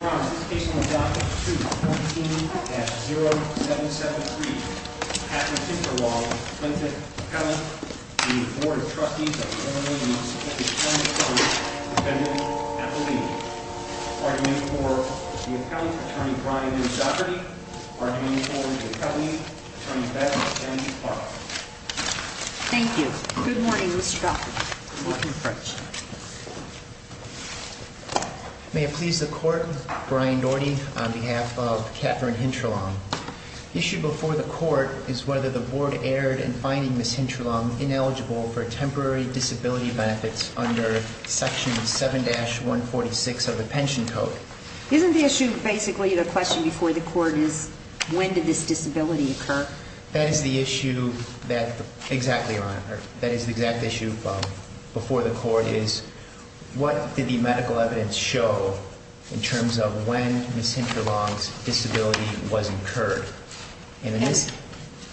Defendant, Appellee. Argument for the Appellant, Attorney Brian M. Dougherty. Argument for the Appellant, Attorney Beth M. Clark. Thank you. Good morning, Mr. Dougherty. Good morning, French. May it please the Court, Brian Dougherty on behalf of Katherine Hintralong. Issue before the Court is whether the Board erred in finding Ms. Hintralong ineligible for temporary disability benefits under Section 7-146 of the Pension Code. Isn't the issue basically the question before the Court is when did this disability occur? That is the issue before the Court is what did the medical evidence show in terms of when Ms. Hintralong's disability was incurred?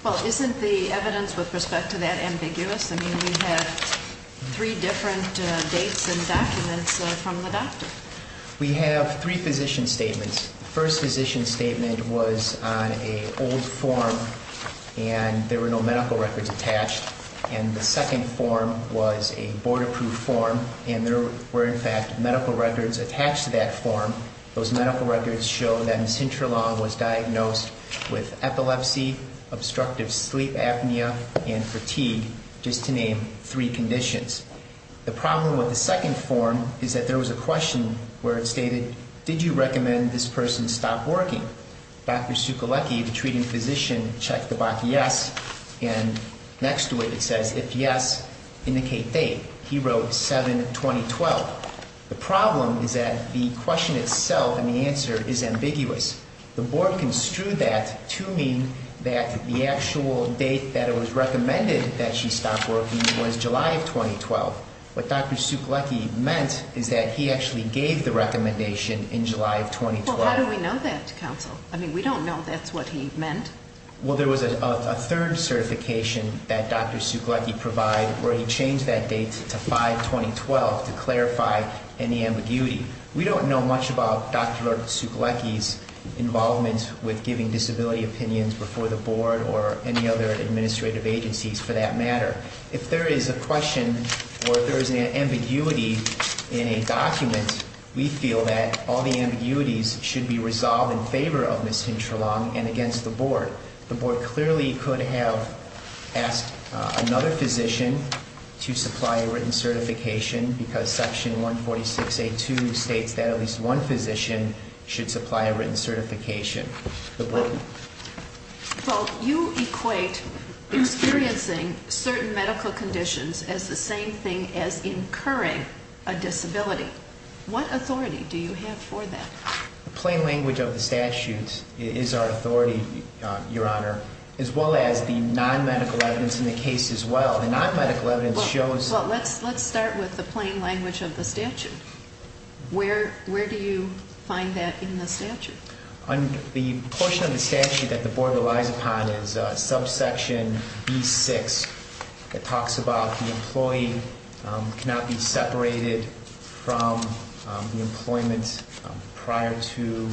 Well, isn't the evidence with respect to that ambiguous? I mean, we have three different dates and documents from the doctor. We have three physician statements. The first physician statement was on an old form and there were no medical records attached. And the second form was a Board-approved form and there were in fact medical records attached to that form. Those medical records show that Ms. Hintralong was diagnosed with epilepsy, obstructive sleep apnea, and fatigue, just to name three conditions. The problem with the second form is that there was a question where it stated, did you recommend this person stop working? Dr. Sukolecki, the treating physician, checked the box yes and next to it it says if yes, indicate date. He wrote 7-2012. The problem is that the question itself and the answer is ambiguous. The Board construed that to mean that the actual date that it was recommended that she stop working was July of 2012. What Dr. Sukolecki meant is that he actually gave the recommendation in July of 2012. Well, how do we know that, counsel? I mean, we don't know that's what he meant. Well, there was a third certification that Dr. Sukolecki provided where he changed that date to 5-2012 to clarify any ambiguity. We don't know much about Dr. Sukolecki's involvement with giving disability opinions before the Board or any other administrative agencies for that matter. If there is a question or if there is an ambiguity in a document, we feel that all the ambiguities should be resolved in favor of Ms. Hintralong and against the Board. The Board clearly could have asked another physician to supply a written certification because Section 146A2 states that at least one physician should supply a written certification. Well, you equate experiencing certain medical conditions as the same thing as incurring a disability. What authority do you have for that? The plain language of the statute is our authority, Your Honor, as well as the non-medical evidence in the case as well. The non-medical evidence shows... Well, let's start with the plain language of the statute. Where do you find that in the statute? The portion of the statute that the Board relies upon is subsection B6. It talks about the employee cannot be separated from the employment prior to...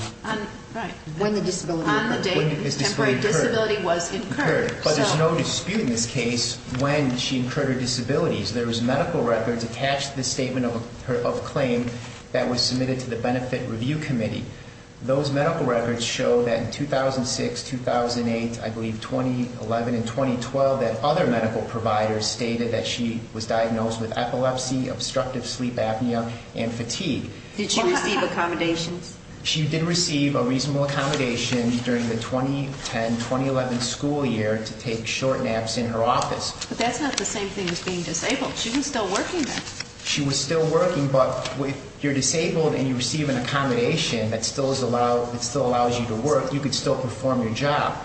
Right. When the disability occurred. On the date the temporary disability was incurred. But there's no dispute in this case when she incurred her disabilities. There was medical records attached to this statement of claim that was submitted to the benefit review committee. Those medical records show that in 2006, 2008, I believe 2011 and 2012 that other medical providers stated that she was diagnosed with epilepsy, obstructive sleep apnea, and fatigue. Did she receive accommodations? She did receive a reasonable accommodation during the 2010-2011 school year to take short naps in her office. But that's not the same thing as being disabled. She was still working then. She was still working, but if you're disabled and you receive an accommodation that still allows you to work, you can still perform your job.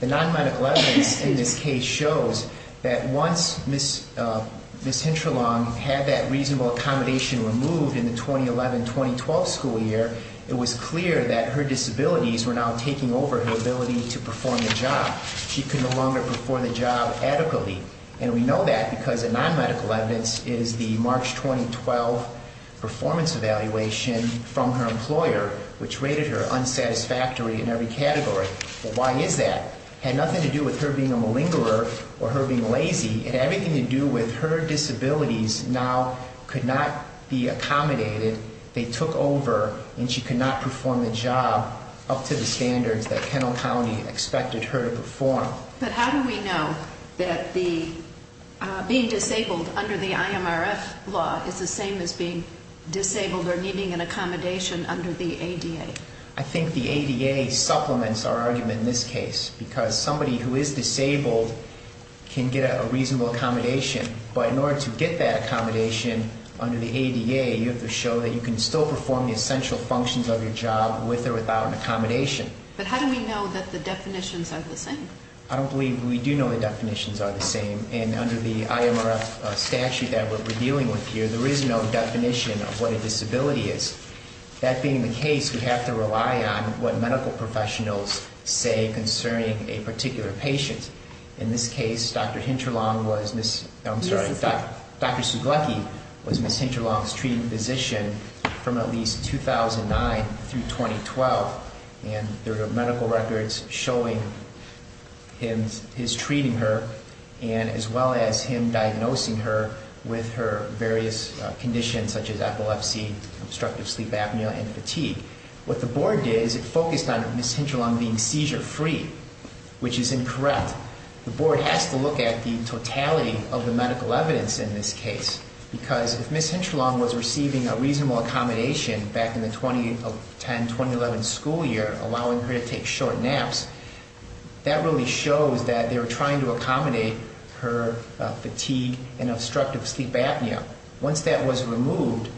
The non-medical evidence in this case shows that once Ms. Hintralong had that reasonable accommodation removed in the 2011-2012 school year, it was clear that her disabilities were now taking over her ability to perform the job. She could no longer perform the job adequately. And we know that because the non-medical evidence is the March 2012 performance evaluation from her employer, which rated her unsatisfactory in every category. But why is that? It had nothing to do with her being a malingerer or her being lazy. It had everything to do with her disabilities now could not be accommodated. They took over, and she could not perform the job up to the standards that Kennel County expected her to perform. But how do we know that being disabled under the IMRF law is the same as being disabled or needing an accommodation under the ADA? I think the ADA supplements our argument in this case because somebody who is disabled can get a reasonable accommodation. But in order to get that accommodation under the ADA, you have to show that you can still perform the essential functions of your job with or without an accommodation. But how do we know that the definitions are the same? I don't believe we do know the definitions are the same. And under the IMRF statute that we're dealing with here, there is no definition of what a disability is. That being the case, we have to rely on what medical professionals say concerning a particular patient. In this case, Dr. Hinterlong was Ms. I'm sorry, Dr. Suglecky was Ms. Hinterlong's treating physician from at least 2009 through 2012. And there are medical records showing his treating her and as well as him diagnosing her with her various conditions such as epilepsy, obstructive sleep apnea, and fatigue. What the board did is it focused on Ms. Hinterlong being seizure free, which is incorrect. The board has to look at the totality of the medical evidence in this case because if Ms. Hinterlong was receiving a reasonable accommodation back in the 2010-2011 school year, allowing her to take short naps, that really shows that they were trying to accommodate her fatigue and obstructive sleep apnea. Once that was removed,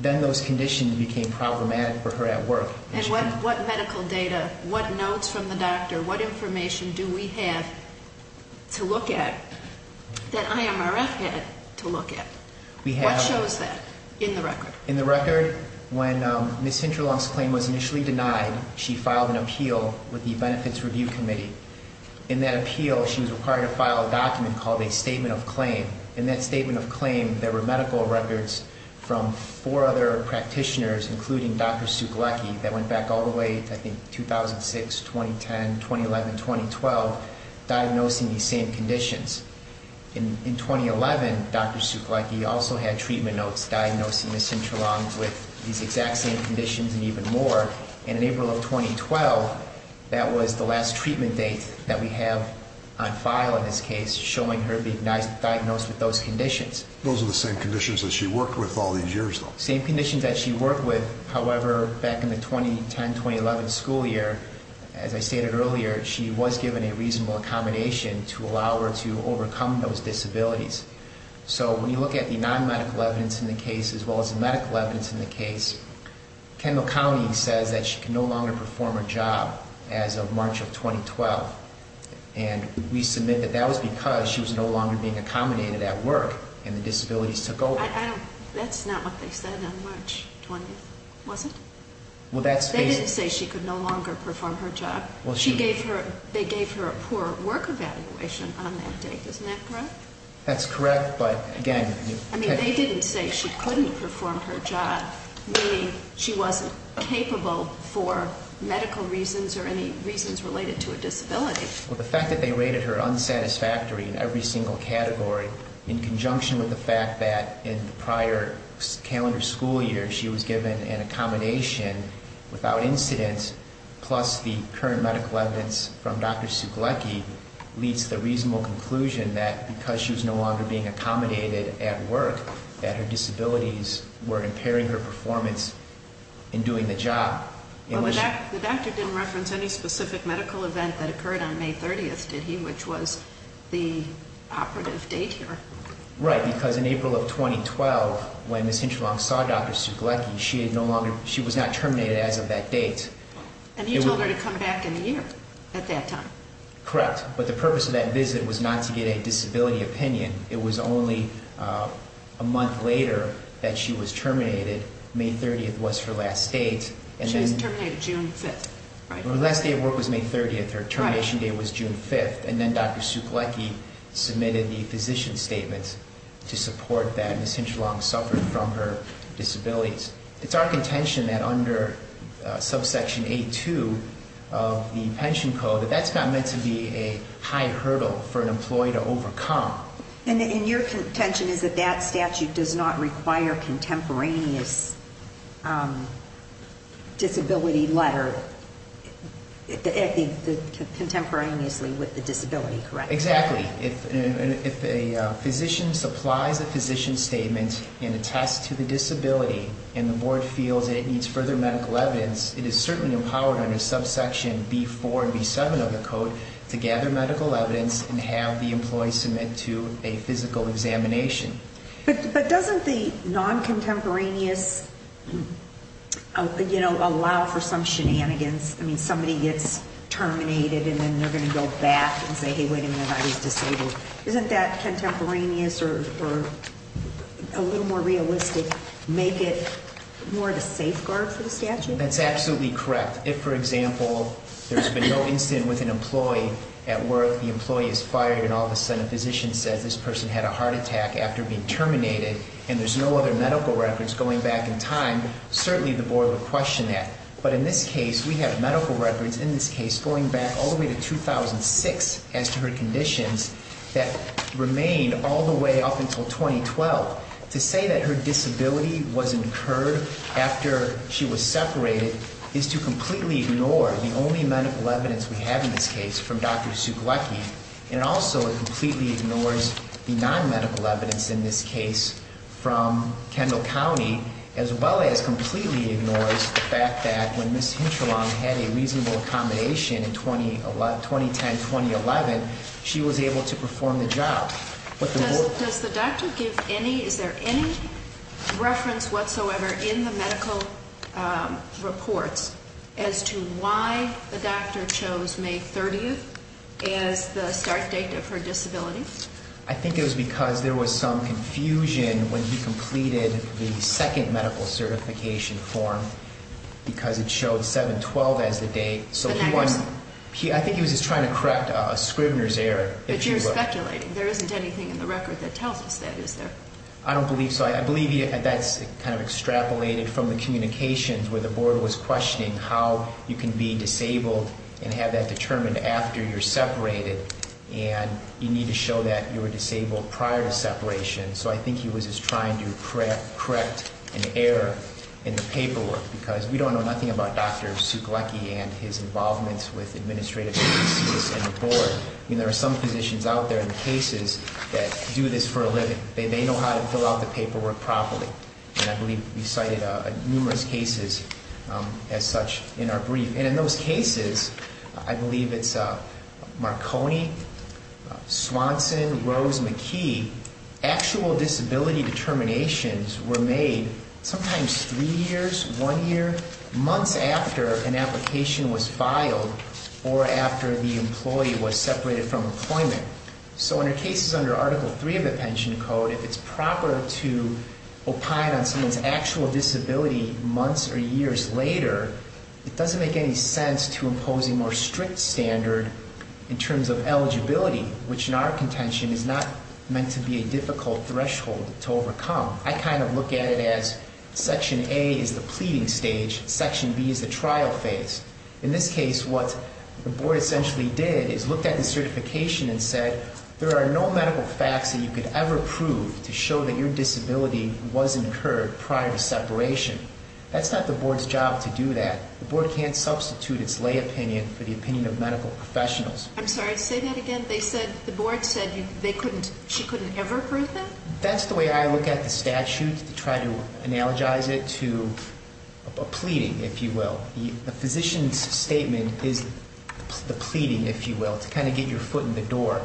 then those conditions became problematic for her at work. And what medical data, what notes from the doctor, what information do we have to look at that IMRF had to look at? What shows that in the record? In the record, when Ms. Hinterlong's claim was initially denied, she filed an appeal with the Benefits Review Committee. In that appeal, she was required to file a document called a statement of claim. In that statement of claim, there were medical records from four other practitioners, including Dr. Sukalecki, that went back all the way to, I think, 2006, 2010, 2011, 2012, diagnosing these same conditions. In 2011, Dr. Sukalecki also had treatment notes diagnosing Ms. Hinterlong with these exact same conditions and even more. And in April of 2012, that was the last treatment date that we have on file in this case, showing her being diagnosed with those conditions. Those are the same conditions that she worked with all these years, though. Same conditions that she worked with. However, back in the 2010-2011 school year, as I stated earlier, she was given a reasonable accommodation to allow her to overcome those disabilities. So when you look at the non-medical evidence in the case, as well as the medical evidence in the case, Kendall County says that she can no longer perform her job as of March of 2012. And we submit that that was because she was no longer being accommodated at work and the disabilities took over. That's not what they said on March 20th, was it? Well, that's- They didn't say she could no longer perform her job. Well, she- They gave her a poor work evaluation on that date. Isn't that correct? That's correct, but again- I mean, they didn't say she couldn't perform her job, meaning she wasn't capable for medical reasons or any reasons related to a disability. Well, the fact that they rated her unsatisfactory in every single category, in conjunction with the fact that in the prior calendar school year she was given an accommodation without incident, plus the current medical evidence from Dr. Suglecki, leads to the reasonable conclusion that because she was no longer being accommodated at work, that her disabilities were impairing her performance in doing the job. Well, the doctor didn't reference any specific medical event that occurred on May 30th, did he? Which was the operative date here. Right, because in April of 2012, when Ms. Hinchlong saw Dr. Suglecki, she was not terminated as of that date. And he told her to come back in a year at that time. Correct, but the purpose of that visit was not to get a disability opinion. It was only a month later that she was terminated. May 30th was her last date. She was terminated June 5th. Her last day of work was May 30th. Her termination date was June 5th. And then Dr. Suglecki submitted the physician's statement to support that Ms. Hinchlong suffered from her disabilities. It's our contention that under subsection A2 of the pension code, that that's not meant to be a high hurdle for an employee to overcome. And your contention is that that statute does not require contemporaneous disability letter, contemporaneously with the disability, correct? Exactly. If a physician supplies a physician statement and attests to the disability, and the board feels that it needs further medical evidence, it is certainly empowered under subsection B4 and B7 of the code to gather medical evidence and have the employee submit to a physical examination. But doesn't the non-contemporaneous, you know, allow for some shenanigans? I mean, somebody gets terminated and then they're going to go back and say, hey, wait a minute, I was disabled. Isn't that contemporaneous or a little more realistic, make it more of a safeguard for the statute? That's absolutely correct. If, for example, there's been no incident with an employee at work, the employee is fired and all of a sudden a physician says this person had a heart attack after being terminated and there's no other medical records going back in time, certainly the board would question that. But in this case, we have medical records in this case going back all the way to 2006 as to her conditions that remained all the way up until 2012. To say that her disability was incurred after she was separated is to completely ignore the only medical evidence we have in this case from Dr. Suglecky and also it completely ignores the non-medical evidence in this case from Kendall County as well as completely ignores the fact that when Ms. Hintralong had a reasonable accommodation in 2010-2011, she was able to perform the job. Does the doctor give any, is there any reference whatsoever in the medical reports as to why the doctor chose May 30th as the start date of her disability? I think it was because there was some confusion when he completed the second medical certification form because it showed 7-12 as the date. I think he was just trying to correct a Scribner's error. But you're speculating. There isn't anything in the record that tells us that, is there? I don't believe so. I believe that's kind of extrapolated from the communications where the board was questioning how you can be disabled and have that determined after you're separated and you need to show that you were disabled prior to separation. So I think he was just trying to correct an error in the paperwork because we don't know nothing about Dr. Suglecky and his involvement with administrative agencies and the board. I mean, there are some physicians out there in cases that do this for a living. They know how to fill out the paperwork properly. And I believe we cited numerous cases as such in our brief. And in those cases, I believe it's Marconi, Swanson, Rose McKee. Actual disability determinations were made sometimes three years, one year, months after an application was filed or after the employee was separated from employment. So in our cases under Article III of the Pension Code, if it's proper to opine on someone's actual disability months or years later, it doesn't make any sense to impose a more strict standard in terms of eligibility, which in our contention is not meant to be a difficult threshold to overcome. I kind of look at it as Section A is the pleading stage. Section B is the trial phase. In this case, what the board essentially did is looked at the certification and said, there are no medical facts that you could ever prove to show that your disability was incurred prior to separation. That's not the board's job to do that. The board can't substitute its lay opinion for the opinion of medical professionals. I'm sorry, say that again. The board said she couldn't ever prove that? That's the way I look at the statute to try to analogize it to a pleading, if you will. A physician's statement is the pleading, if you will, to kind of get your foot in the door.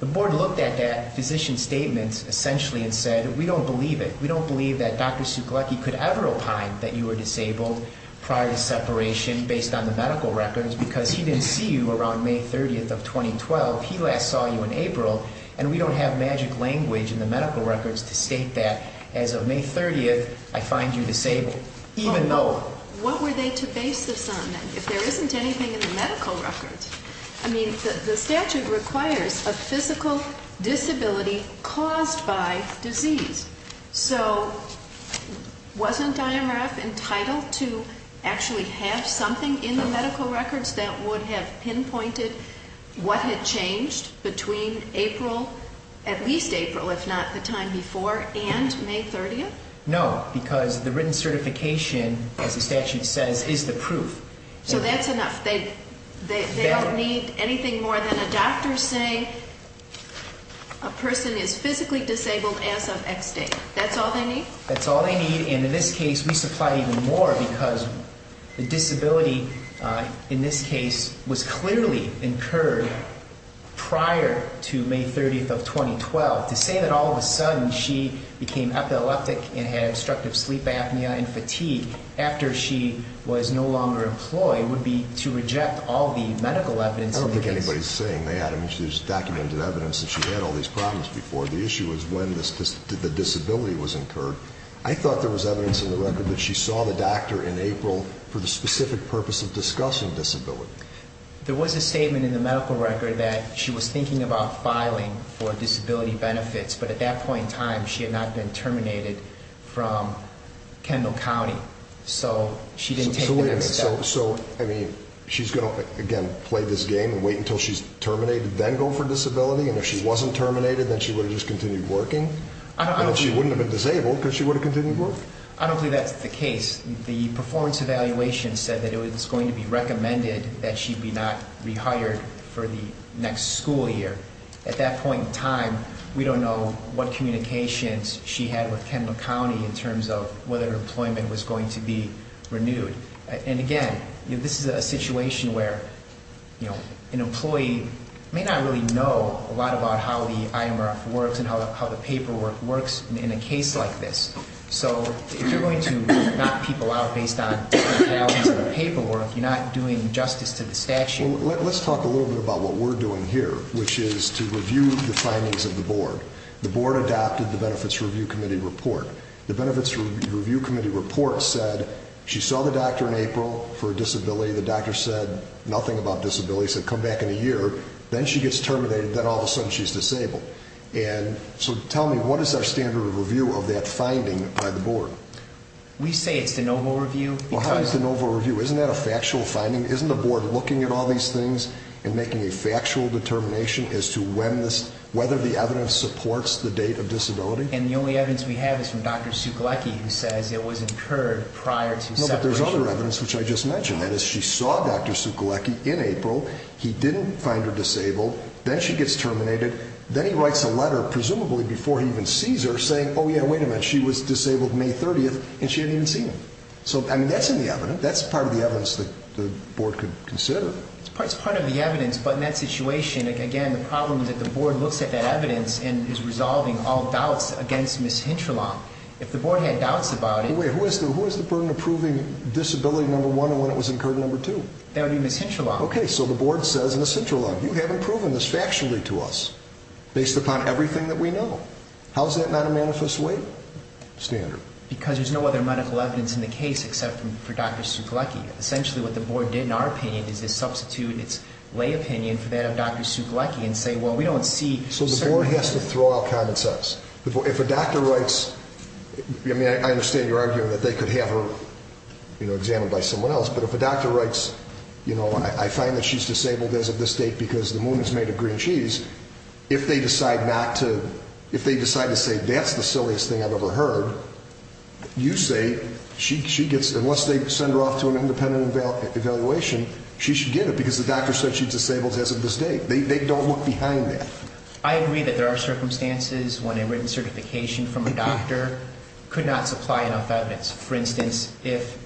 The board looked at that physician's statement essentially and said, we don't believe it. We don't believe that Dr. Suclucky could ever opine that you were disabled prior to separation based on the medical records because he didn't see you around May 30th of 2012. He last saw you in April, and we don't have magic language in the medical records to state that. As of May 30th, I find you disabled, even though- What were they to base this on then, if there isn't anything in the medical records? I mean, the statute requires a physical disability caused by disease. So, wasn't IMRF entitled to actually have something in the medical records that would have pinpointed what had changed between April, at least April, if not the time before, and May 30th? No, because the written certification, as the statute says, is the proof. So that's enough. They don't need anything more than a doctor saying a person is physically disabled as of X date. That's all they need? That's all they need, and in this case, we supply even more because the disability, in this case, was clearly incurred prior to May 30th of 2012. To say that all of a sudden she became epileptic and had obstructive sleep apnea and fatigue after she was no longer employed would be to reject all the medical evidence in the case. I don't think anybody's saying that. I mean, there's documented evidence that she had all these problems before. The issue is when the disability was incurred. I thought there was evidence in the record that she saw the doctor in April for the specific purpose of discussing disability. There was a statement in the medical record that she was thinking about filing for disability benefits, but at that point in time, she had not been terminated from Kendall County, so she didn't take that step. So, I mean, she's going to, again, play this game and wait until she's terminated, then go for disability? And if she wasn't terminated, then she would have just continued working? And she wouldn't have been disabled because she would have continued working? I don't believe that's the case. The performance evaluation said that it was going to be recommended that she be not rehired for the next school year. At that point in time, we don't know what communications she had with Kendall County And, again, this is a situation where, you know, an employee may not really know a lot about how the IMRF works and how the paperwork works in a case like this. So, if you're going to knock people out based on the paperwork, you're not doing justice to the statute. Well, let's talk a little bit about what we're doing here, which is to review the findings of the board. The board adopted the Benefits Review Committee report. The Benefits Review Committee report said she saw the doctor in April for a disability. The doctor said nothing about disability, said come back in a year. Then she gets terminated, then all of a sudden she's disabled. And so tell me, what is our standard of review of that finding by the board? We say it's de novo review. Why is it de novo review? Isn't that a factual finding? Isn't the board looking at all these things and making a factual determination as to whether the evidence supports the date of disability? And the only evidence we have is from Dr. Sukalecki, who says it was incurred prior to separation. No, but there's other evidence, which I just mentioned. That is, she saw Dr. Sukalecki in April. He didn't find her disabled. Then she gets terminated. Then he writes a letter, presumably before he even sees her, saying, oh, yeah, wait a minute, she was disabled May 30th, and she hadn't even seen him. So, I mean, that's in the evidence. That's part of the evidence that the board could consider. It's part of the evidence, but in that situation, again, the problem is that the board looks at that evidence and is resolving all doubts against Ms. Hintralong. If the board had doubts about it. Wait, who has the burden of proving disability number one and when it was incurred number two? That would be Ms. Hintralong. Okay, so the board says, Ms. Hintralong, you haven't proven this factually to us, based upon everything that we know. How is that not a manifest weight standard? Because there's no other medical evidence in the case except for Dr. Sukalecki. Essentially what the board did, in our opinion, is to substitute its lay opinion for that of Dr. Sukalecki and say, well, we don't see. So the board has to throw out common sense. If a doctor writes, I mean, I understand your argument that they could have her examined by someone else, but if a doctor writes, you know, I find that she's disabled as of this date because the moon is made of green cheese, if they decide not to, if they decide to say that's the silliest thing I've ever heard, you say she gets, unless they send her off to an independent evaluation, she should get it because the doctor said she's disabled as of this date. They don't look behind that. I agree that there are circumstances when a written certification from a doctor could not supply enough evidence. For instance, if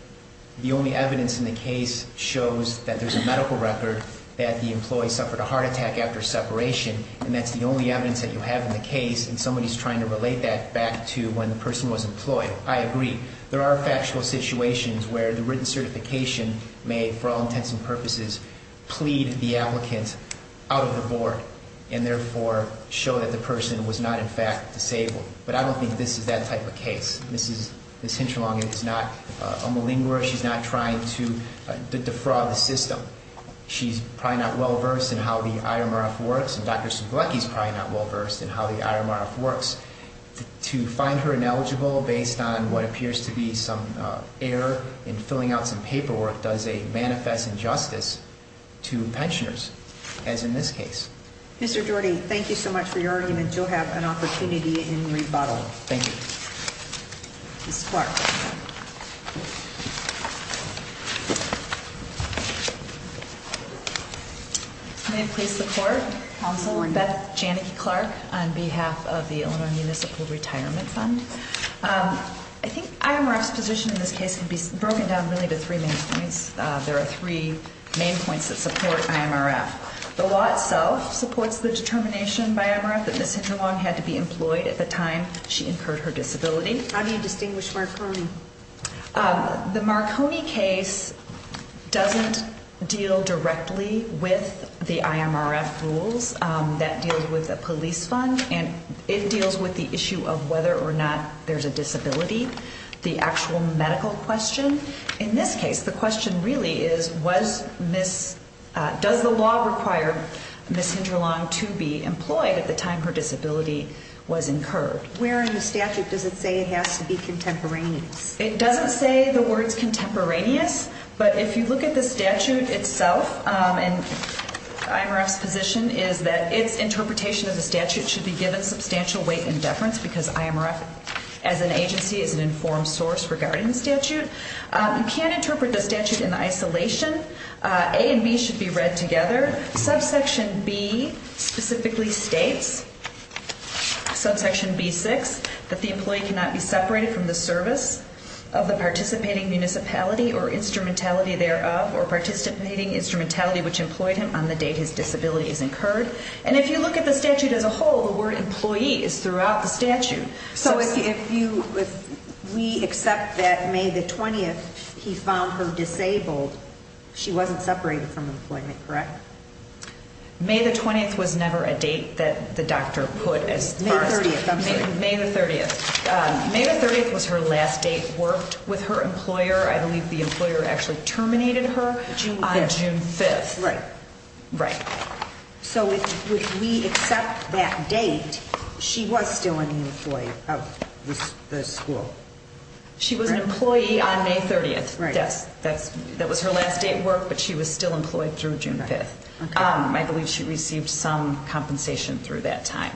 the only evidence in the case shows that there's a medical record that the employee suffered a heart attack after separation, and that's the only evidence that you have in the case, and somebody's trying to relate that back to when the person was employed, I agree. There are factual situations where the written certification may, for all intents and purposes, plead the applicant out of the board and, therefore, show that the person was not, in fact, disabled. But I don't think this is that type of case. Mrs. Hinchalong is not a malingerer. She's not trying to defraud the system. She's probably not well-versed in how the IMRF works, and Dr. Suglecki's probably not well-versed in how the IMRF works. To find her ineligible based on what appears to be some error in filling out some paperwork does a manifest injustice to pensioners, as in this case. Mr. Jordy, thank you so much for your argument. You'll have an opportunity in rebuttal. Thank you. Mrs. Clark. May it please the Court? Counsel, Beth Janicki Clark on behalf of the Illinois Municipal Retirement Fund. I think IMRF's position in this case can be broken down really to three main points. There are three main points that support IMRF. The law itself supports the determination by IMRF that Mrs. Hinchalong had to be employed at the time she incurred her disability. How do you distinguish Marconi? The Marconi case doesn't deal directly with the IMRF rules. That deals with a police fund, and it deals with the issue of whether or not there's a disability. The actual medical question in this case, the question really is, does the law require Mrs. Hinchalong to be employed at the time her disability was incurred? Where in the statute does it say it has to be contemporaneous? It doesn't say the words contemporaneous, but if you look at the statute itself, and IMRF's position is that its interpretation of the statute should be given substantial weight and deference because IMRF as an agency is an informed source regarding the statute. You can't interpret the statute in isolation. A and B should be read together. Subsection B specifically states, subsection B-6, that the employee cannot be separated from the service of the participating municipality or instrumentality thereof or participating instrumentality which employed him on the date his disability is incurred. And if you look at the statute as a whole, the word employee is throughout the statute. So if we accept that May the 20th he found her disabled, she wasn't separated from employment, correct? May the 20th was never a date that the doctor put as the first. May the 30th, I'm sorry. May the 30th. May the 30th was her last date worked with her employer. I believe the employer actually terminated her on June 5th. Right. Right. So if we accept that date, she was still an employee of the school. She was an employee on May 30th. Right. That was her last day at work, but she was still employed through June 5th. I believe she received some compensation through that time.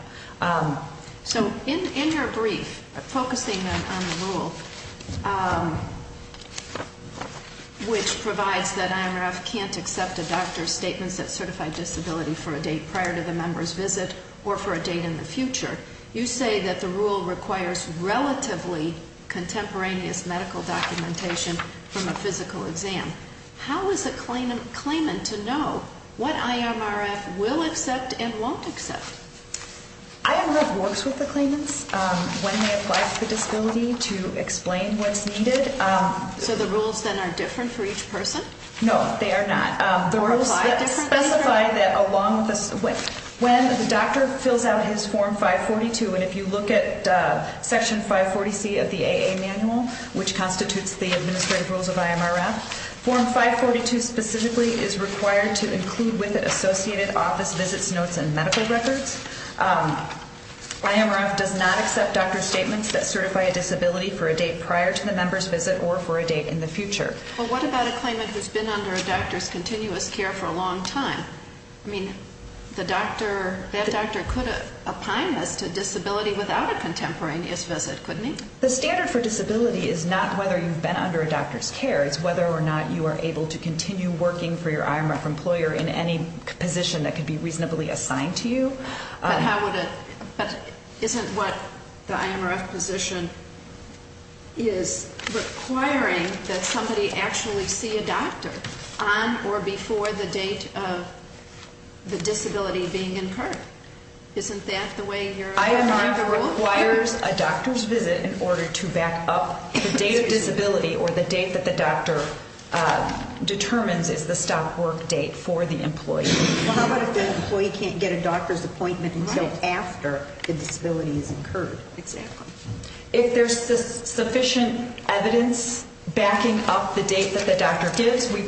So in your brief, focusing on the rule, which provides that IMRF can't accept a doctor's statements that certify disability for a date prior to the member's visit or for a date in the future, you say that the rule requires relatively contemporaneous medical documentation from a physical exam. How is a claimant to know what IMRF will accept and won't accept? IMRF works with the claimants when they apply for disability to explain what's needed. So the rules then are different for each person? No, they are not. The rules specify that when the doctor fills out his Form 542, and if you look at Section 540C of the AA Manual, which constitutes the administrative rules of IMRF, Form 542 specifically is required to include with it associated office visits, notes, and medical records. IMRF does not accept doctor's statements that certify a disability for a date prior to the member's visit or for a date in the future. Well, what about a claimant who's been under a doctor's continuous care for a long time? I mean, that doctor could apply this to disability without a contemporaneous visit, couldn't he? The standard for disability is not whether you've been under a doctor's care. It's whether or not you are able to continue working for your IMRF employer in any position that could be reasonably assigned to you. But isn't what the IMRF position is requiring that somebody actually see a doctor on or before the date of the disability being incurred? Isn't that the way you're applying the rule? It requires a doctor's visit in order to back up the date of disability or the date that the doctor determines is the stop work date for the employee. Well, how about if the employee can't get a doctor's appointment until after the disability is incurred? Exactly. If there's sufficient evidence backing up the date that the doctor gives, we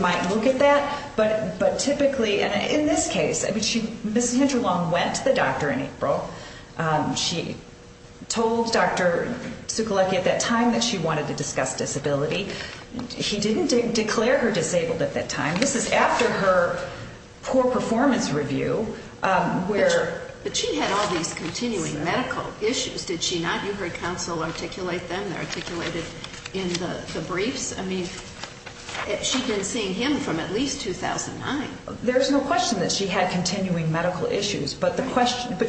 might look at that. But typically, in this case, Ms. Hinterlund went to the doctor in April. She told Dr. Zukolecki at that time that she wanted to discuss disability. He didn't declare her disabled at that time. This is after her poor performance review where... But she had all these continuing medical issues, did she not? You heard counsel articulate them. They're articulated in the briefs. I mean, she'd been seeing him from at least 2009. There's no question that she had continuing medical issues, but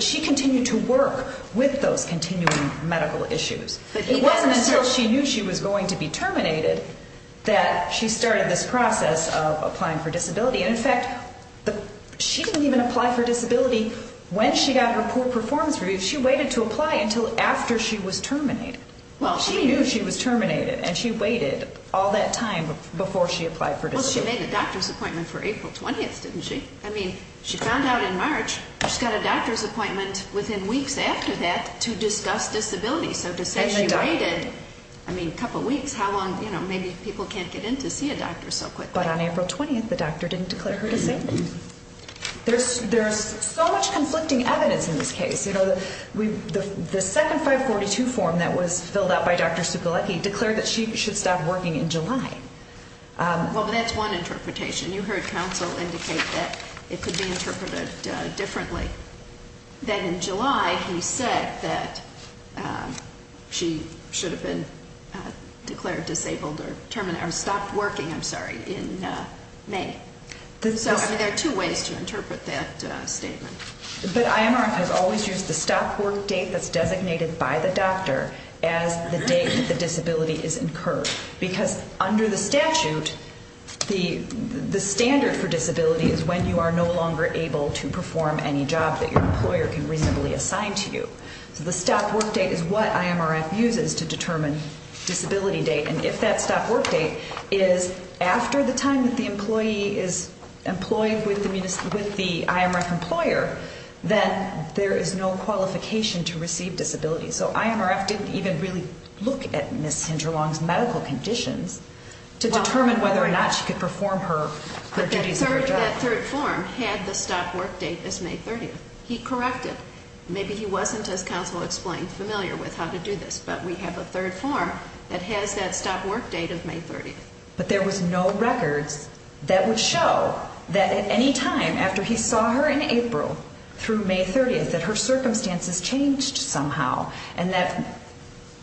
she continued to work with those continuing medical issues. It wasn't until she knew she was going to be terminated that she started this process of applying for disability. And, in fact, she didn't even apply for disability when she got her poor performance review. She waited to apply until after she was terminated. She knew she was terminated, and she waited all that time before she applied for disability. Well, she made a doctor's appointment for April 20th, didn't she? I mean, she found out in March. She got a doctor's appointment within weeks after that to discuss disability. So to say she waited a couple weeks, how long? Maybe people can't get in to see a doctor so quickly. But on April 20th, the doctor didn't declare her disabled. There's so much conflicting evidence in this case. You know, the second 542 form that was filled out by Dr. Sukolecki declared that she should stop working in July. Well, but that's one interpretation. You heard counsel indicate that it could be interpreted differently, that in July he said that she should have been declared disabled or terminated or stopped working, I'm sorry, in May. But IMRF has always used the stop work date that's designated by the doctor as the date that the disability is incurred because under the statute, the standard for disability is when you are no longer able to perform any job that your employer can reasonably assign to you. So the stop work date is what IMRF uses to determine disability date. And if that stop work date is after the time that the employee is employed with the IMRF employer, then there is no qualification to receive disability. So IMRF didn't even really look at Ms. Hinterlong's medical conditions to determine whether or not she could perform her duties of her job. But that third form had the stop work date as May 30th. He corrected. Maybe he wasn't, as counsel explained, familiar with how to do this. But we have a third form that has that stop work date of May 30th. But there was no records that would show that at any time after he saw her in April through May 30th that her circumstances changed somehow and that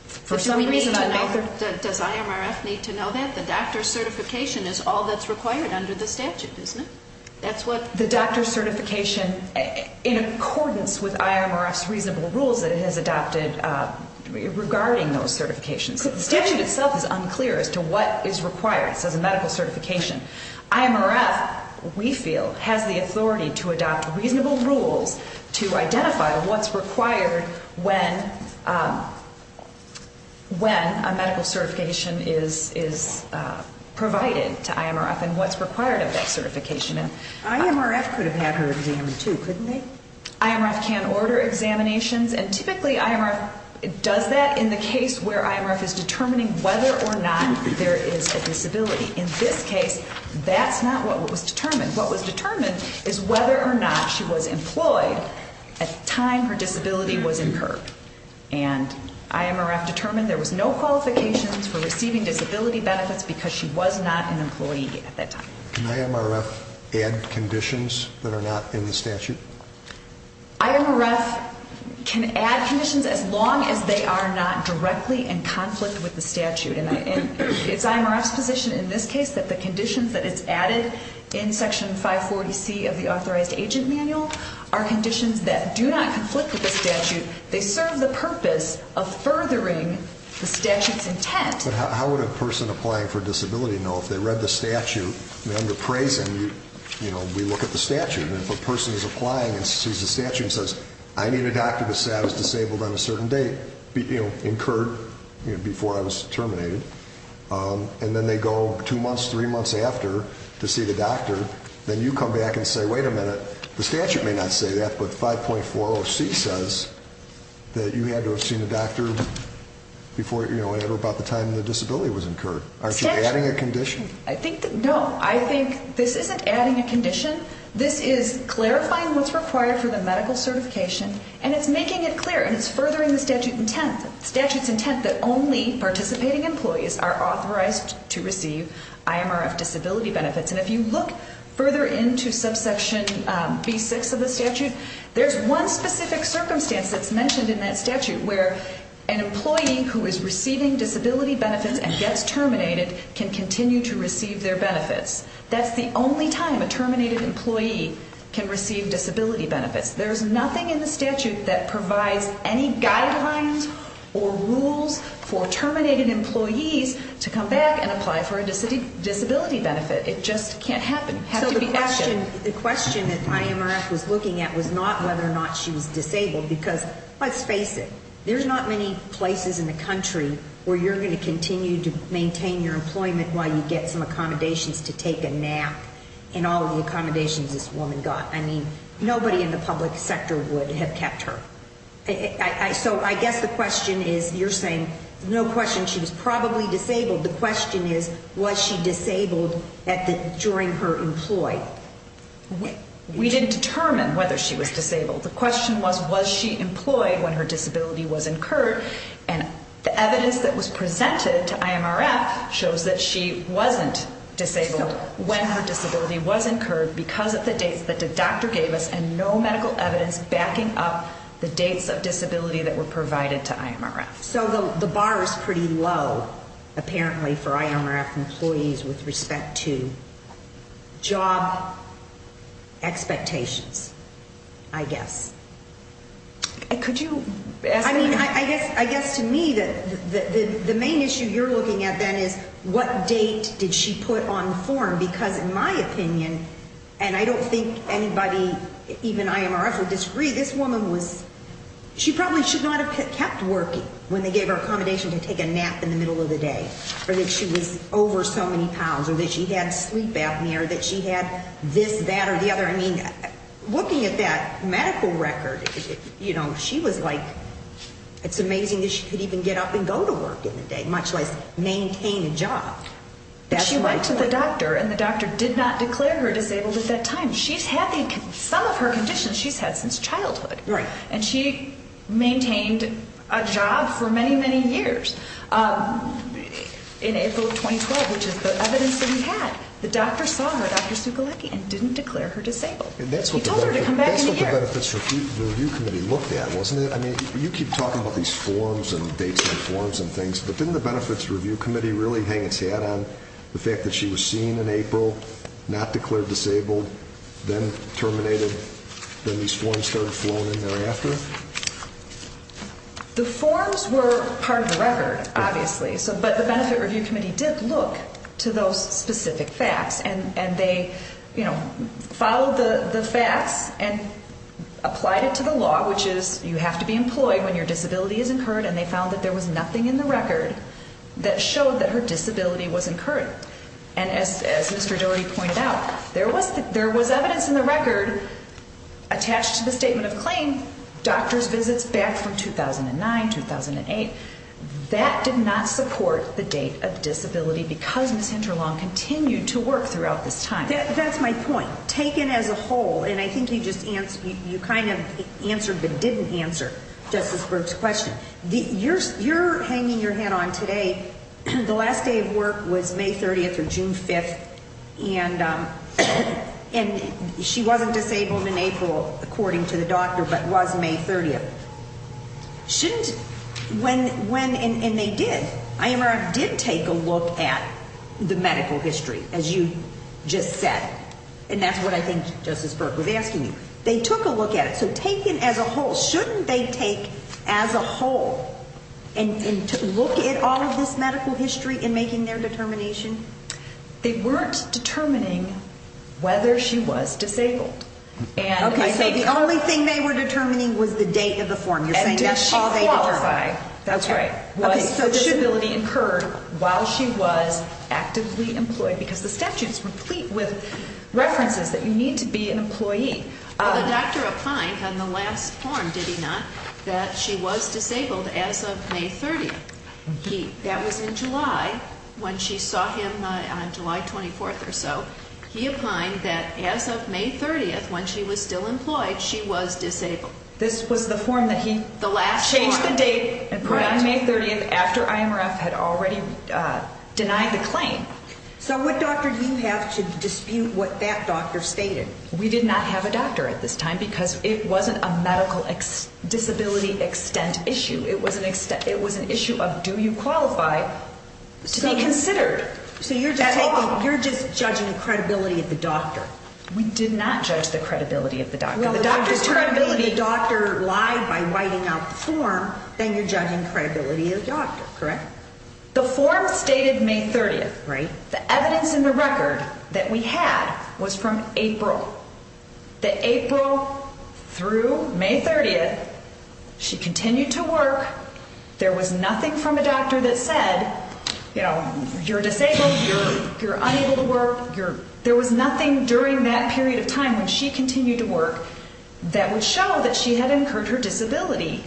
for some reason on May 30th. Does IMRF need to know that? The doctor's certification is all that's required under the statute, isn't it? The doctor's certification, in accordance with IMRF's reasonable rules that it has adopted regarding those certifications. The statute itself is unclear as to what is required. It says a medical certification. IMRF, we feel, has the authority to adopt reasonable rules to identify what's required when a medical certification is provided to IMRF and what's required of that certification. IMRF could have had her examined too, couldn't they? IMRF can order examinations, and typically IMRF does that in the case where IMRF is determining whether or not there is a disability. In this case, that's not what was determined. What was determined is whether or not she was employed at the time her disability was incurred. And IMRF determined there was no qualifications for receiving disability benefits because she was not an employee at that time. Can IMRF add conditions that are not in the statute? IMRF can add conditions as long as they are not directly in conflict with the statute. And it's IMRF's position in this case that the conditions that it's added in Section 540C of the Authorized Agent Manual are conditions that do not conflict with the statute. They serve the purpose of furthering the statute's intent. But how would a person applying for a disability know if they read the statute under praising, we look at the statute, and if a person is applying and sees the statute and says, I need a doctor to say I was disabled on a certain date, incurred before I was terminated, and then they go two months, three months after to see the doctor, then you come back and say, wait a minute, the statute may not say that, but 540C says that you had to have seen a doctor at or about the time the disability was incurred. Aren't you adding a condition? No, I think this isn't adding a condition. This is clarifying what's required for the medical certification, and it's making it clear, and it's furthering the statute's intent that only participating employees are authorized to receive IMRF disability benefits. And if you look further into subsection B6 of the statute, there's one specific circumstance that's mentioned in that statute where an employee who is receiving disability benefits and gets terminated can continue to receive their benefits. That's the only time a terminated employee can receive disability benefits. There's nothing in the statute that provides any guidelines or rules for terminated employees to come back and apply for a disability benefit. It just can't happen. So the question that IMRF was looking at was not whether or not she was disabled because, let's face it, there's not many places in the country where you're going to continue to maintain your employment while you get some accommodations to take a nap and all the accommodations this woman got. I mean, nobody in the public sector would have kept her. So I guess the question is, you're saying, no question, she was probably disabled. The question is, was she disabled during her employ? We didn't determine whether she was disabled. The question was, was she employed when her disability was incurred? And the evidence that was presented to IMRF shows that she wasn't disabled when her disability was incurred because of the dates that the doctor gave us and no medical evidence backing up the dates of disability that were provided to IMRF. So the bar is pretty low, apparently, for IMRF employees with respect to job expectations, I guess. Could you ask that? I mean, I guess to me the main issue you're looking at then is what date did she put on the form? Because in my opinion, and I don't think anybody, even IMRF, would disagree, this woman was, she probably should not have kept working when they gave her accommodation to take a nap in the middle of the day or that she was over so many pounds or that she had sleep apnea or that she had this, that, or the other. I mean, looking at that medical record, you know, she was like, it's amazing that she could even get up and go to work in the day, much less maintain a job. But she went to the doctor and the doctor did not declare her disabled at that time. She's had some of her conditions she's had since childhood. Right. And she maintained a job for many, many years in April of 2012, which is the evidence that we had. The doctor saw her, Dr. Sukolecki, and didn't declare her disabled. He told her to come back in a year. That's what the Benefits Review Committee looked at, wasn't it? I mean, you keep talking about these forms and dates and forms and things, but didn't the Benefits Review Committee really hang its hat on the fact that she was seen in April, not declared disabled, then terminated, then these forms started flowing in thereafter? The forms were part of the record, obviously, but the Benefits Review Committee did look to those specific facts, and they, you know, followed the facts and applied it to the law, which is you have to be employed when your disability is incurred, and they found that there was nothing in the record that showed that her disability was incurred. And as Mr. Doherty pointed out, there was evidence in the record attached to the statement of claim, doctor's visits back from 2009, 2008. That did not support the date of disability because Ms. Hinterlong continued to work throughout this time. That's my point. Taken as a whole, and I think you kind of answered but didn't answer Justice Berg's question, you're hanging your hat on today, the last day of work was May 30th or June 5th, and she wasn't disabled in April, according to the doctor, but was May 30th. Shouldn't, when, and they did, IMRF did take a look at the medical history, as you just said, and that's what I think Justice Berg was asking you. They took a look at it. So taken as a whole, shouldn't they take as a whole and look at all of this medical history in making their determination? They weren't determining whether she was disabled. Okay, so the only thing they were determining was the date of the form. You're saying that's all they determined. And did she qualify? That's right. Was her disability incurred while she was actively employed? Because the statute is complete with references that you need to be an employee. Well, the doctor opined on the last form, did he not, that she was disabled as of May 30th. That was in July when she saw him on July 24th or so. He opined that as of May 30th, when she was still employed, she was disabled. This was the form that he changed the date and put on May 30th after IMRF had already denied the claim. So what doctor do you have to dispute what that doctor stated? We did not have a doctor at this time because it wasn't a medical disability extent issue. It was an issue of do you qualify to be considered. So you're just judging the credibility of the doctor. We did not judge the credibility of the doctor. If the doctor lied by writing out the form, then you're judging the credibility of the doctor, correct? The form stated May 30th, right? The evidence in the record that we had was from April. That April through May 30th, she continued to work. There was nothing from a doctor that said, you know, you're disabled, you're unable to work. There was nothing during that period of time when she continued to work that would show that she had incurred her disability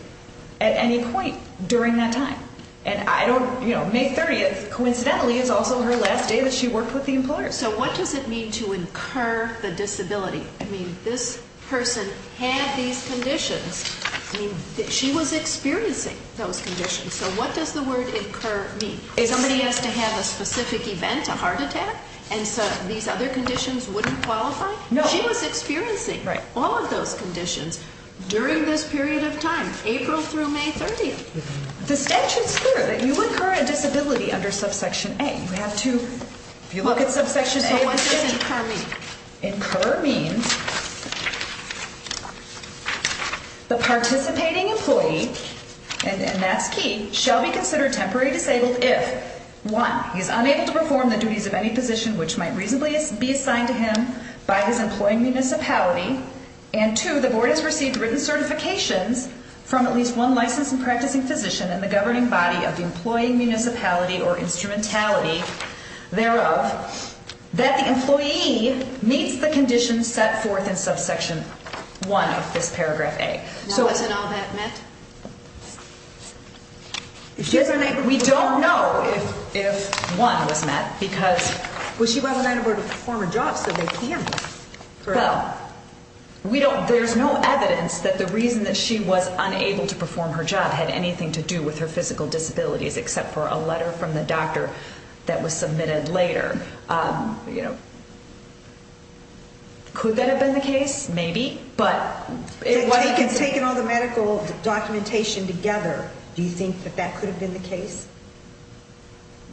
at any point during that time. And I don't, you know, May 30th, coincidentally, is also her last day that she worked with the employer. So what does it mean to incur the disability? I mean, this person had these conditions. I mean, she was experiencing those conditions. So what does the word incur mean? Somebody has to have a specific event, a heart attack, and so these other conditions wouldn't qualify? No. She was experiencing all of those conditions during this period of time, April through May 30th. The statute's clear that you incur a disability under subsection A. You have to look at subsection A. So what does incur mean? Incur means the participating employee, and that's key, shall be considered temporarily disabled if, one, he's unable to perform the duties of any position which might reasonably be assigned to him by his employing municipality, and, two, the board has received written certifications from at least one licensed and practicing physician in the governing body of the employing municipality or instrumentality thereof that the employee meets the conditions set forth in subsection 1 of this paragraph A. Now, isn't all that met? We don't know if 1 was met because... There's no evidence that the reason that she was unable to perform her job had anything to do with her physical disabilities except for a letter from the doctor that was submitted later. Could that have been the case? Maybe, but... Taking all the medical documentation together, do you think that that could have been the case?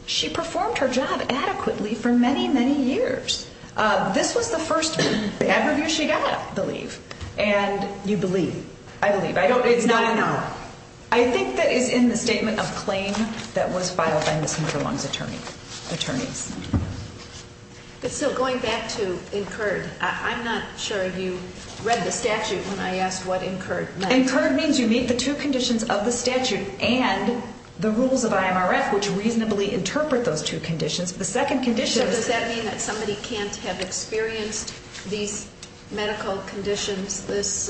She performed her job adequately for many, many years. This was the first ad review she got, I believe, and... You believe? I believe. I don't... It's not enough. I think that it's in the statement of claim that was filed by Ms. Hinterlong's attorneys. But still, going back to incurred, I'm not sure you read the statute when I asked what incurred meant. Incurred means you meet the two conditions of the statute and the rules of IMRF which reasonably interpret those two conditions. The second condition is... So does that mean that somebody can't have experienced these medical conditions, this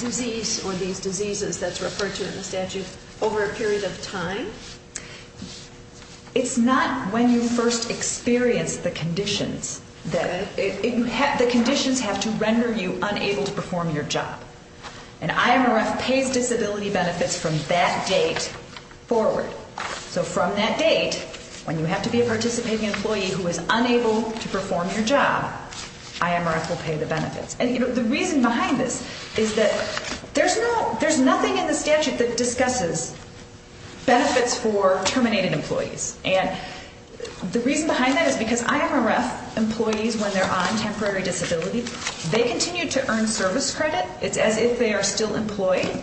disease or these diseases that's referred to in the statute over a period of time? It's not when you first experience the conditions that... The conditions have to render you unable to perform your job. And IMRF pays disability benefits from that date forward. So from that date, when you have to be a participating employee who is unable to perform your job, IMRF will pay the benefits. And the reason behind this is that there's nothing in the statute that discusses benefits for terminated employees. And the reason behind that is because IMRF employees, when they're on temporary disability, they continue to earn service credit. It's as if they are still employed.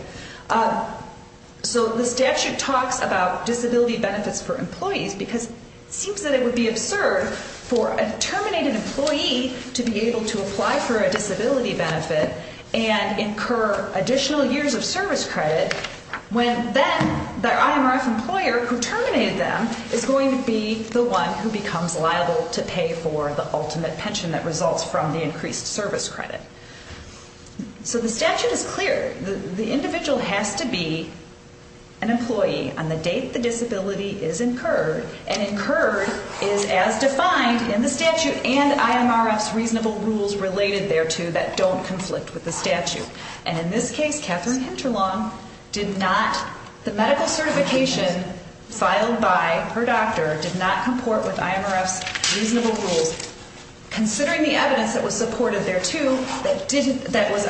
So the statute talks about disability benefits for employees because it seems that it would be absurd for a terminated employee to be able to apply for a disability benefit and incur additional years of service credit when then their IMRF employer who terminated them is going to be the one who becomes liable to pay for the ultimate pension that results from the increased service credit. So the statute is clear. The individual has to be an employee on the date the disability is incurred. And incurred is as defined in the statute and IMRF's reasonable rules related thereto that don't conflict with the statute. And in this case, Katherine Hinterlong did not... The medical certification filed by her doctor did not comport with IMRF's reasonable rules. Considering the evidence that was supported thereto, that was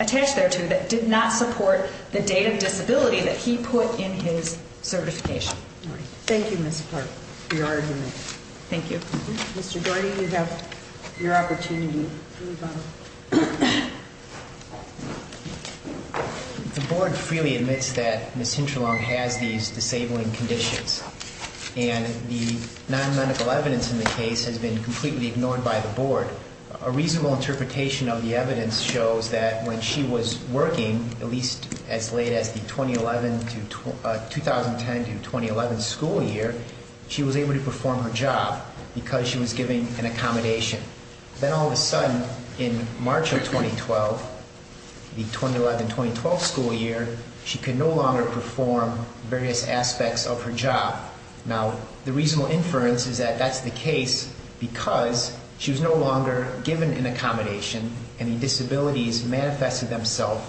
attached thereto, that did not support the date of disability that he put in his certification. Thank you, Ms. Clark, for your argument. Thank you. Mr. Doherty, you have your opportunity. The board freely admits that Ms. Hinterlong has these disabling conditions. And the non-medical evidence in the case has been completely ignored by the board. A reasonable interpretation of the evidence shows that when she was working, at least as late as the 2010 to 2011 school year, she was able to perform her job because she was given an accommodation. Then all of a sudden, in March of 2012, the 2011-2012 school year, she could no longer perform various aspects of her job. Now, the reasonable inference is that that's the case because she was no longer given an accommodation and the disabilities manifested themselves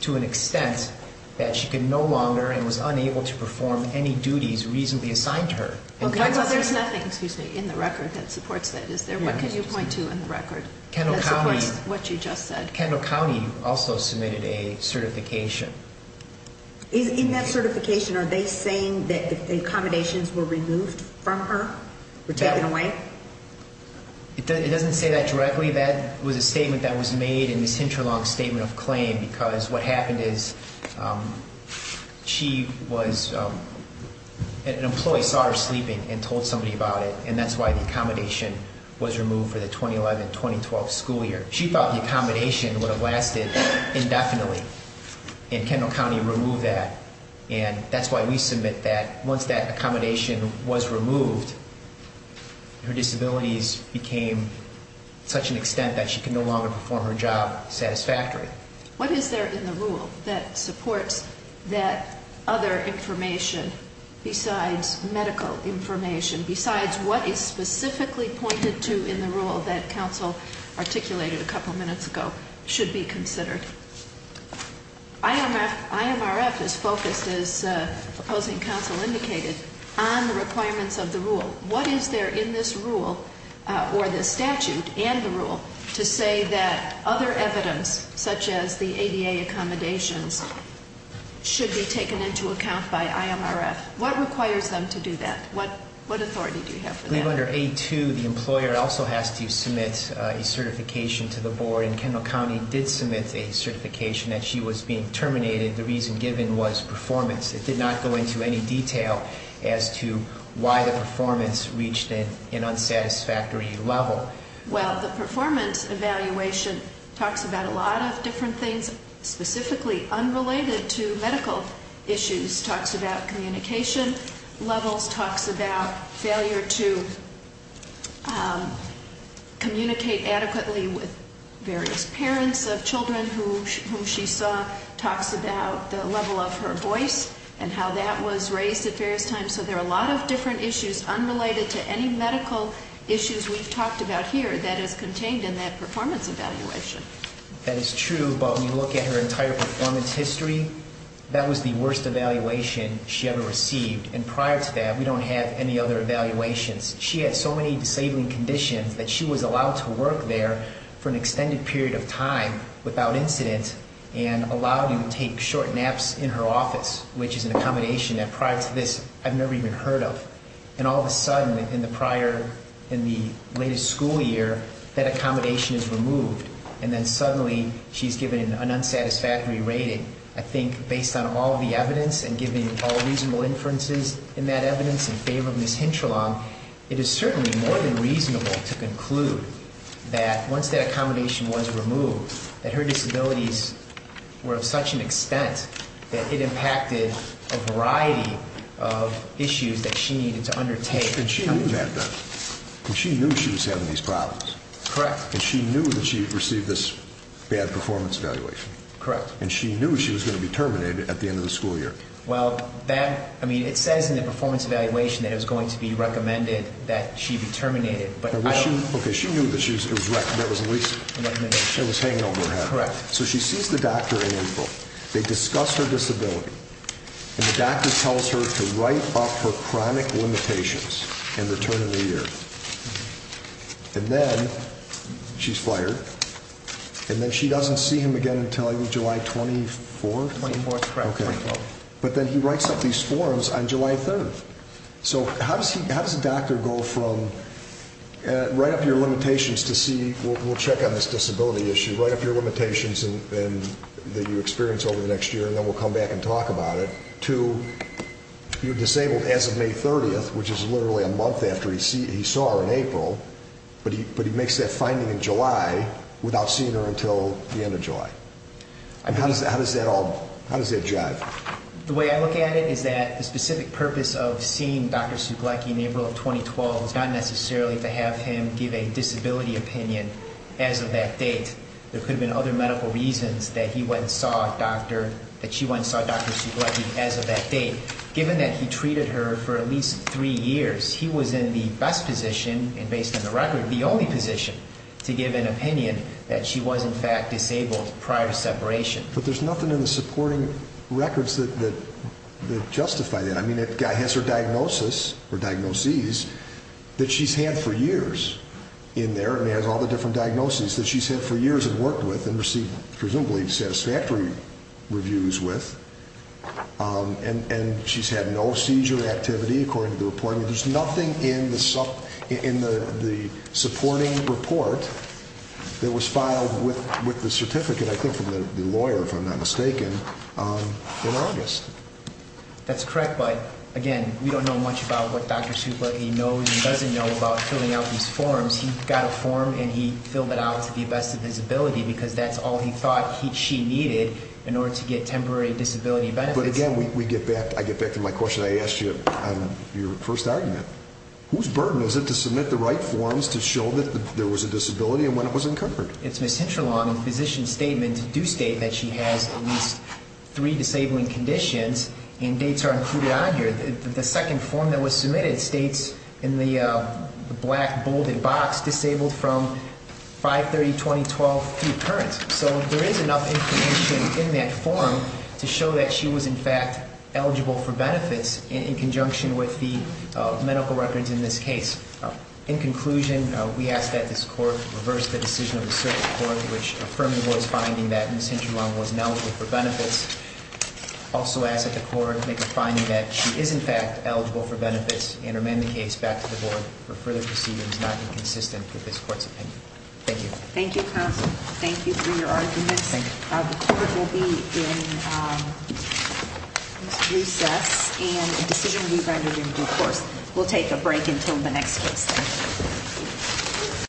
to an extent that she could no longer and was unable to perform any duties reasonably assigned to her. There's nothing in the record that supports that, is there? What can you point to in the record that supports what you just said? Kendall County also submitted a certification. In that certification, are they saying that the accommodations were removed from her, were taken away? It doesn't say that directly. That was a statement that was made in Ms. Hinterlong's statement of claim because what happened is she was an employee saw her sleeping and told somebody about it, and that's why the accommodation was removed for the 2011-2012 school year. She thought the accommodation would have lasted indefinitely, and Kendall County removed that, and that's why we submit that once that accommodation was removed, her disabilities became to such an extent that she could no longer perform her job satisfactorily. What is there in the rule that supports that other information besides medical information, besides what is specifically pointed to in the rule that counsel articulated a couple minutes ago should be considered? IMRF is focused, as opposing counsel indicated, on the requirements of the rule. What is there in this rule or this statute and the rule to say that other evidence such as the ADA accommodations should be taken into account by IMRF? What requires them to do that? What authority do you have for that? I believe under A2, the employer also has to submit a certification to the board, and Kendall County did submit a certification that she was being terminated. The reason given was performance. It did not go into any detail as to why the performance reached an unsatisfactory level. Well, the performance evaluation talks about a lot of different things, specifically unrelated to medical issues. It talks about communication levels, talks about failure to communicate adequately with various parents of children whom she saw, talks about the level of her voice and how that was raised at various times. So there are a lot of different issues unrelated to any medical issues we've talked about here that is contained in that performance evaluation. That is true, but when you look at her entire performance history, that was the worst evaluation she ever received. And prior to that, we don't have any other evaluations. She had so many disabling conditions that she was allowed to work there for an extended period of time without incident and allowed to take short naps in her office, which is an accommodation that prior to this I've never even heard of. And all of a sudden in the prior, in the latest school year, that accommodation is removed. And then suddenly she's given an unsatisfactory rating. I think based on all the evidence and given all reasonable inferences in that evidence in favor of Ms. Hintralong, it is certainly more than reasonable to conclude that once that accommodation was removed, that her disabilities were of such an extent that it impacted a variety of issues that she needed to undertake. And she knew that, though. And she knew she was having these problems. Correct. And she knew that she received this bad performance evaluation. Correct. And she knew she was going to be terminated at the end of the school year. Well, that, I mean, it says in the performance evaluation that it was going to be recommended that she be terminated. Okay, she knew that it was hanging over her head. Correct. So she sees the doctor in April. They discuss her disability. And the doctor tells her to write up her chronic limitations and return in a year. And then she's fired. And then she doesn't see him again until July 24th? 24th, correct. Okay. But then he writes up these forms on July 3rd. So how does a doctor go from write up your limitations to see, we'll check on this disability issue, write up your limitations that you experience over the next year, and then we'll come back and talk about it, to you're disabled as of May 30th, which is literally a month after he saw her in April, but he makes that finding in July without seeing her until the end of July? How does that jive? The way I look at it is that the specific purpose of seeing Dr. Suglecki in April of 2012 is not necessarily to have him give a disability opinion as of that date. There could have been other medical reasons that he went and saw Dr. Suglecki as of that date. Given that he treated her for at least three years, he was in the best position, and based on the record, the only position to give an opinion that she was, in fact, disabled prior to separation. But there's nothing in the supporting records that justify that. I mean, it has her diagnoses that she's had for years in there, and it has all the different diagnoses that she's had for years and worked with and received presumably satisfactory reviews with, and she's had no seizure activity according to the report. I mean, there's nothing in the supporting report that was filed with the certificate, I think, from the lawyer, if I'm not mistaken, in August. That's correct, but, again, we don't know much about what Dr. Suglecki knows and doesn't know about filling out these forms. He got a form, and he filled it out to the best of his ability because that's all he thought she needed in order to get temporary disability benefits. But, again, I get back to my question I asked you on your first argument. Whose burden is it to submit the right forms to show that there was a disability and when it was incurred? It's Ms. Hintralong's physician's statement to do state that she has at least three disabling conditions, and dates are included on here. The second form that was submitted states in the black, bolded box, disabled from 5-30-20-12 pre-occurrence. So there is enough information in that form to show that she was, in fact, eligible for benefits in conjunction with the medical records in this case. In conclusion, we ask that this court reverse the decision of the circuit court, which affirmed the board's finding that Ms. Hintralong was ineligible for benefits. Also ask that the court make a finding that she is, in fact, eligible for benefits and amend the case back to the board for further proceedings not inconsistent with this court's opinion. Thank you. Thank you, counsel. Thank you for your arguments. Thank you. The court will be in recess and a decision will be rendered in due course. We'll take a break until the next case.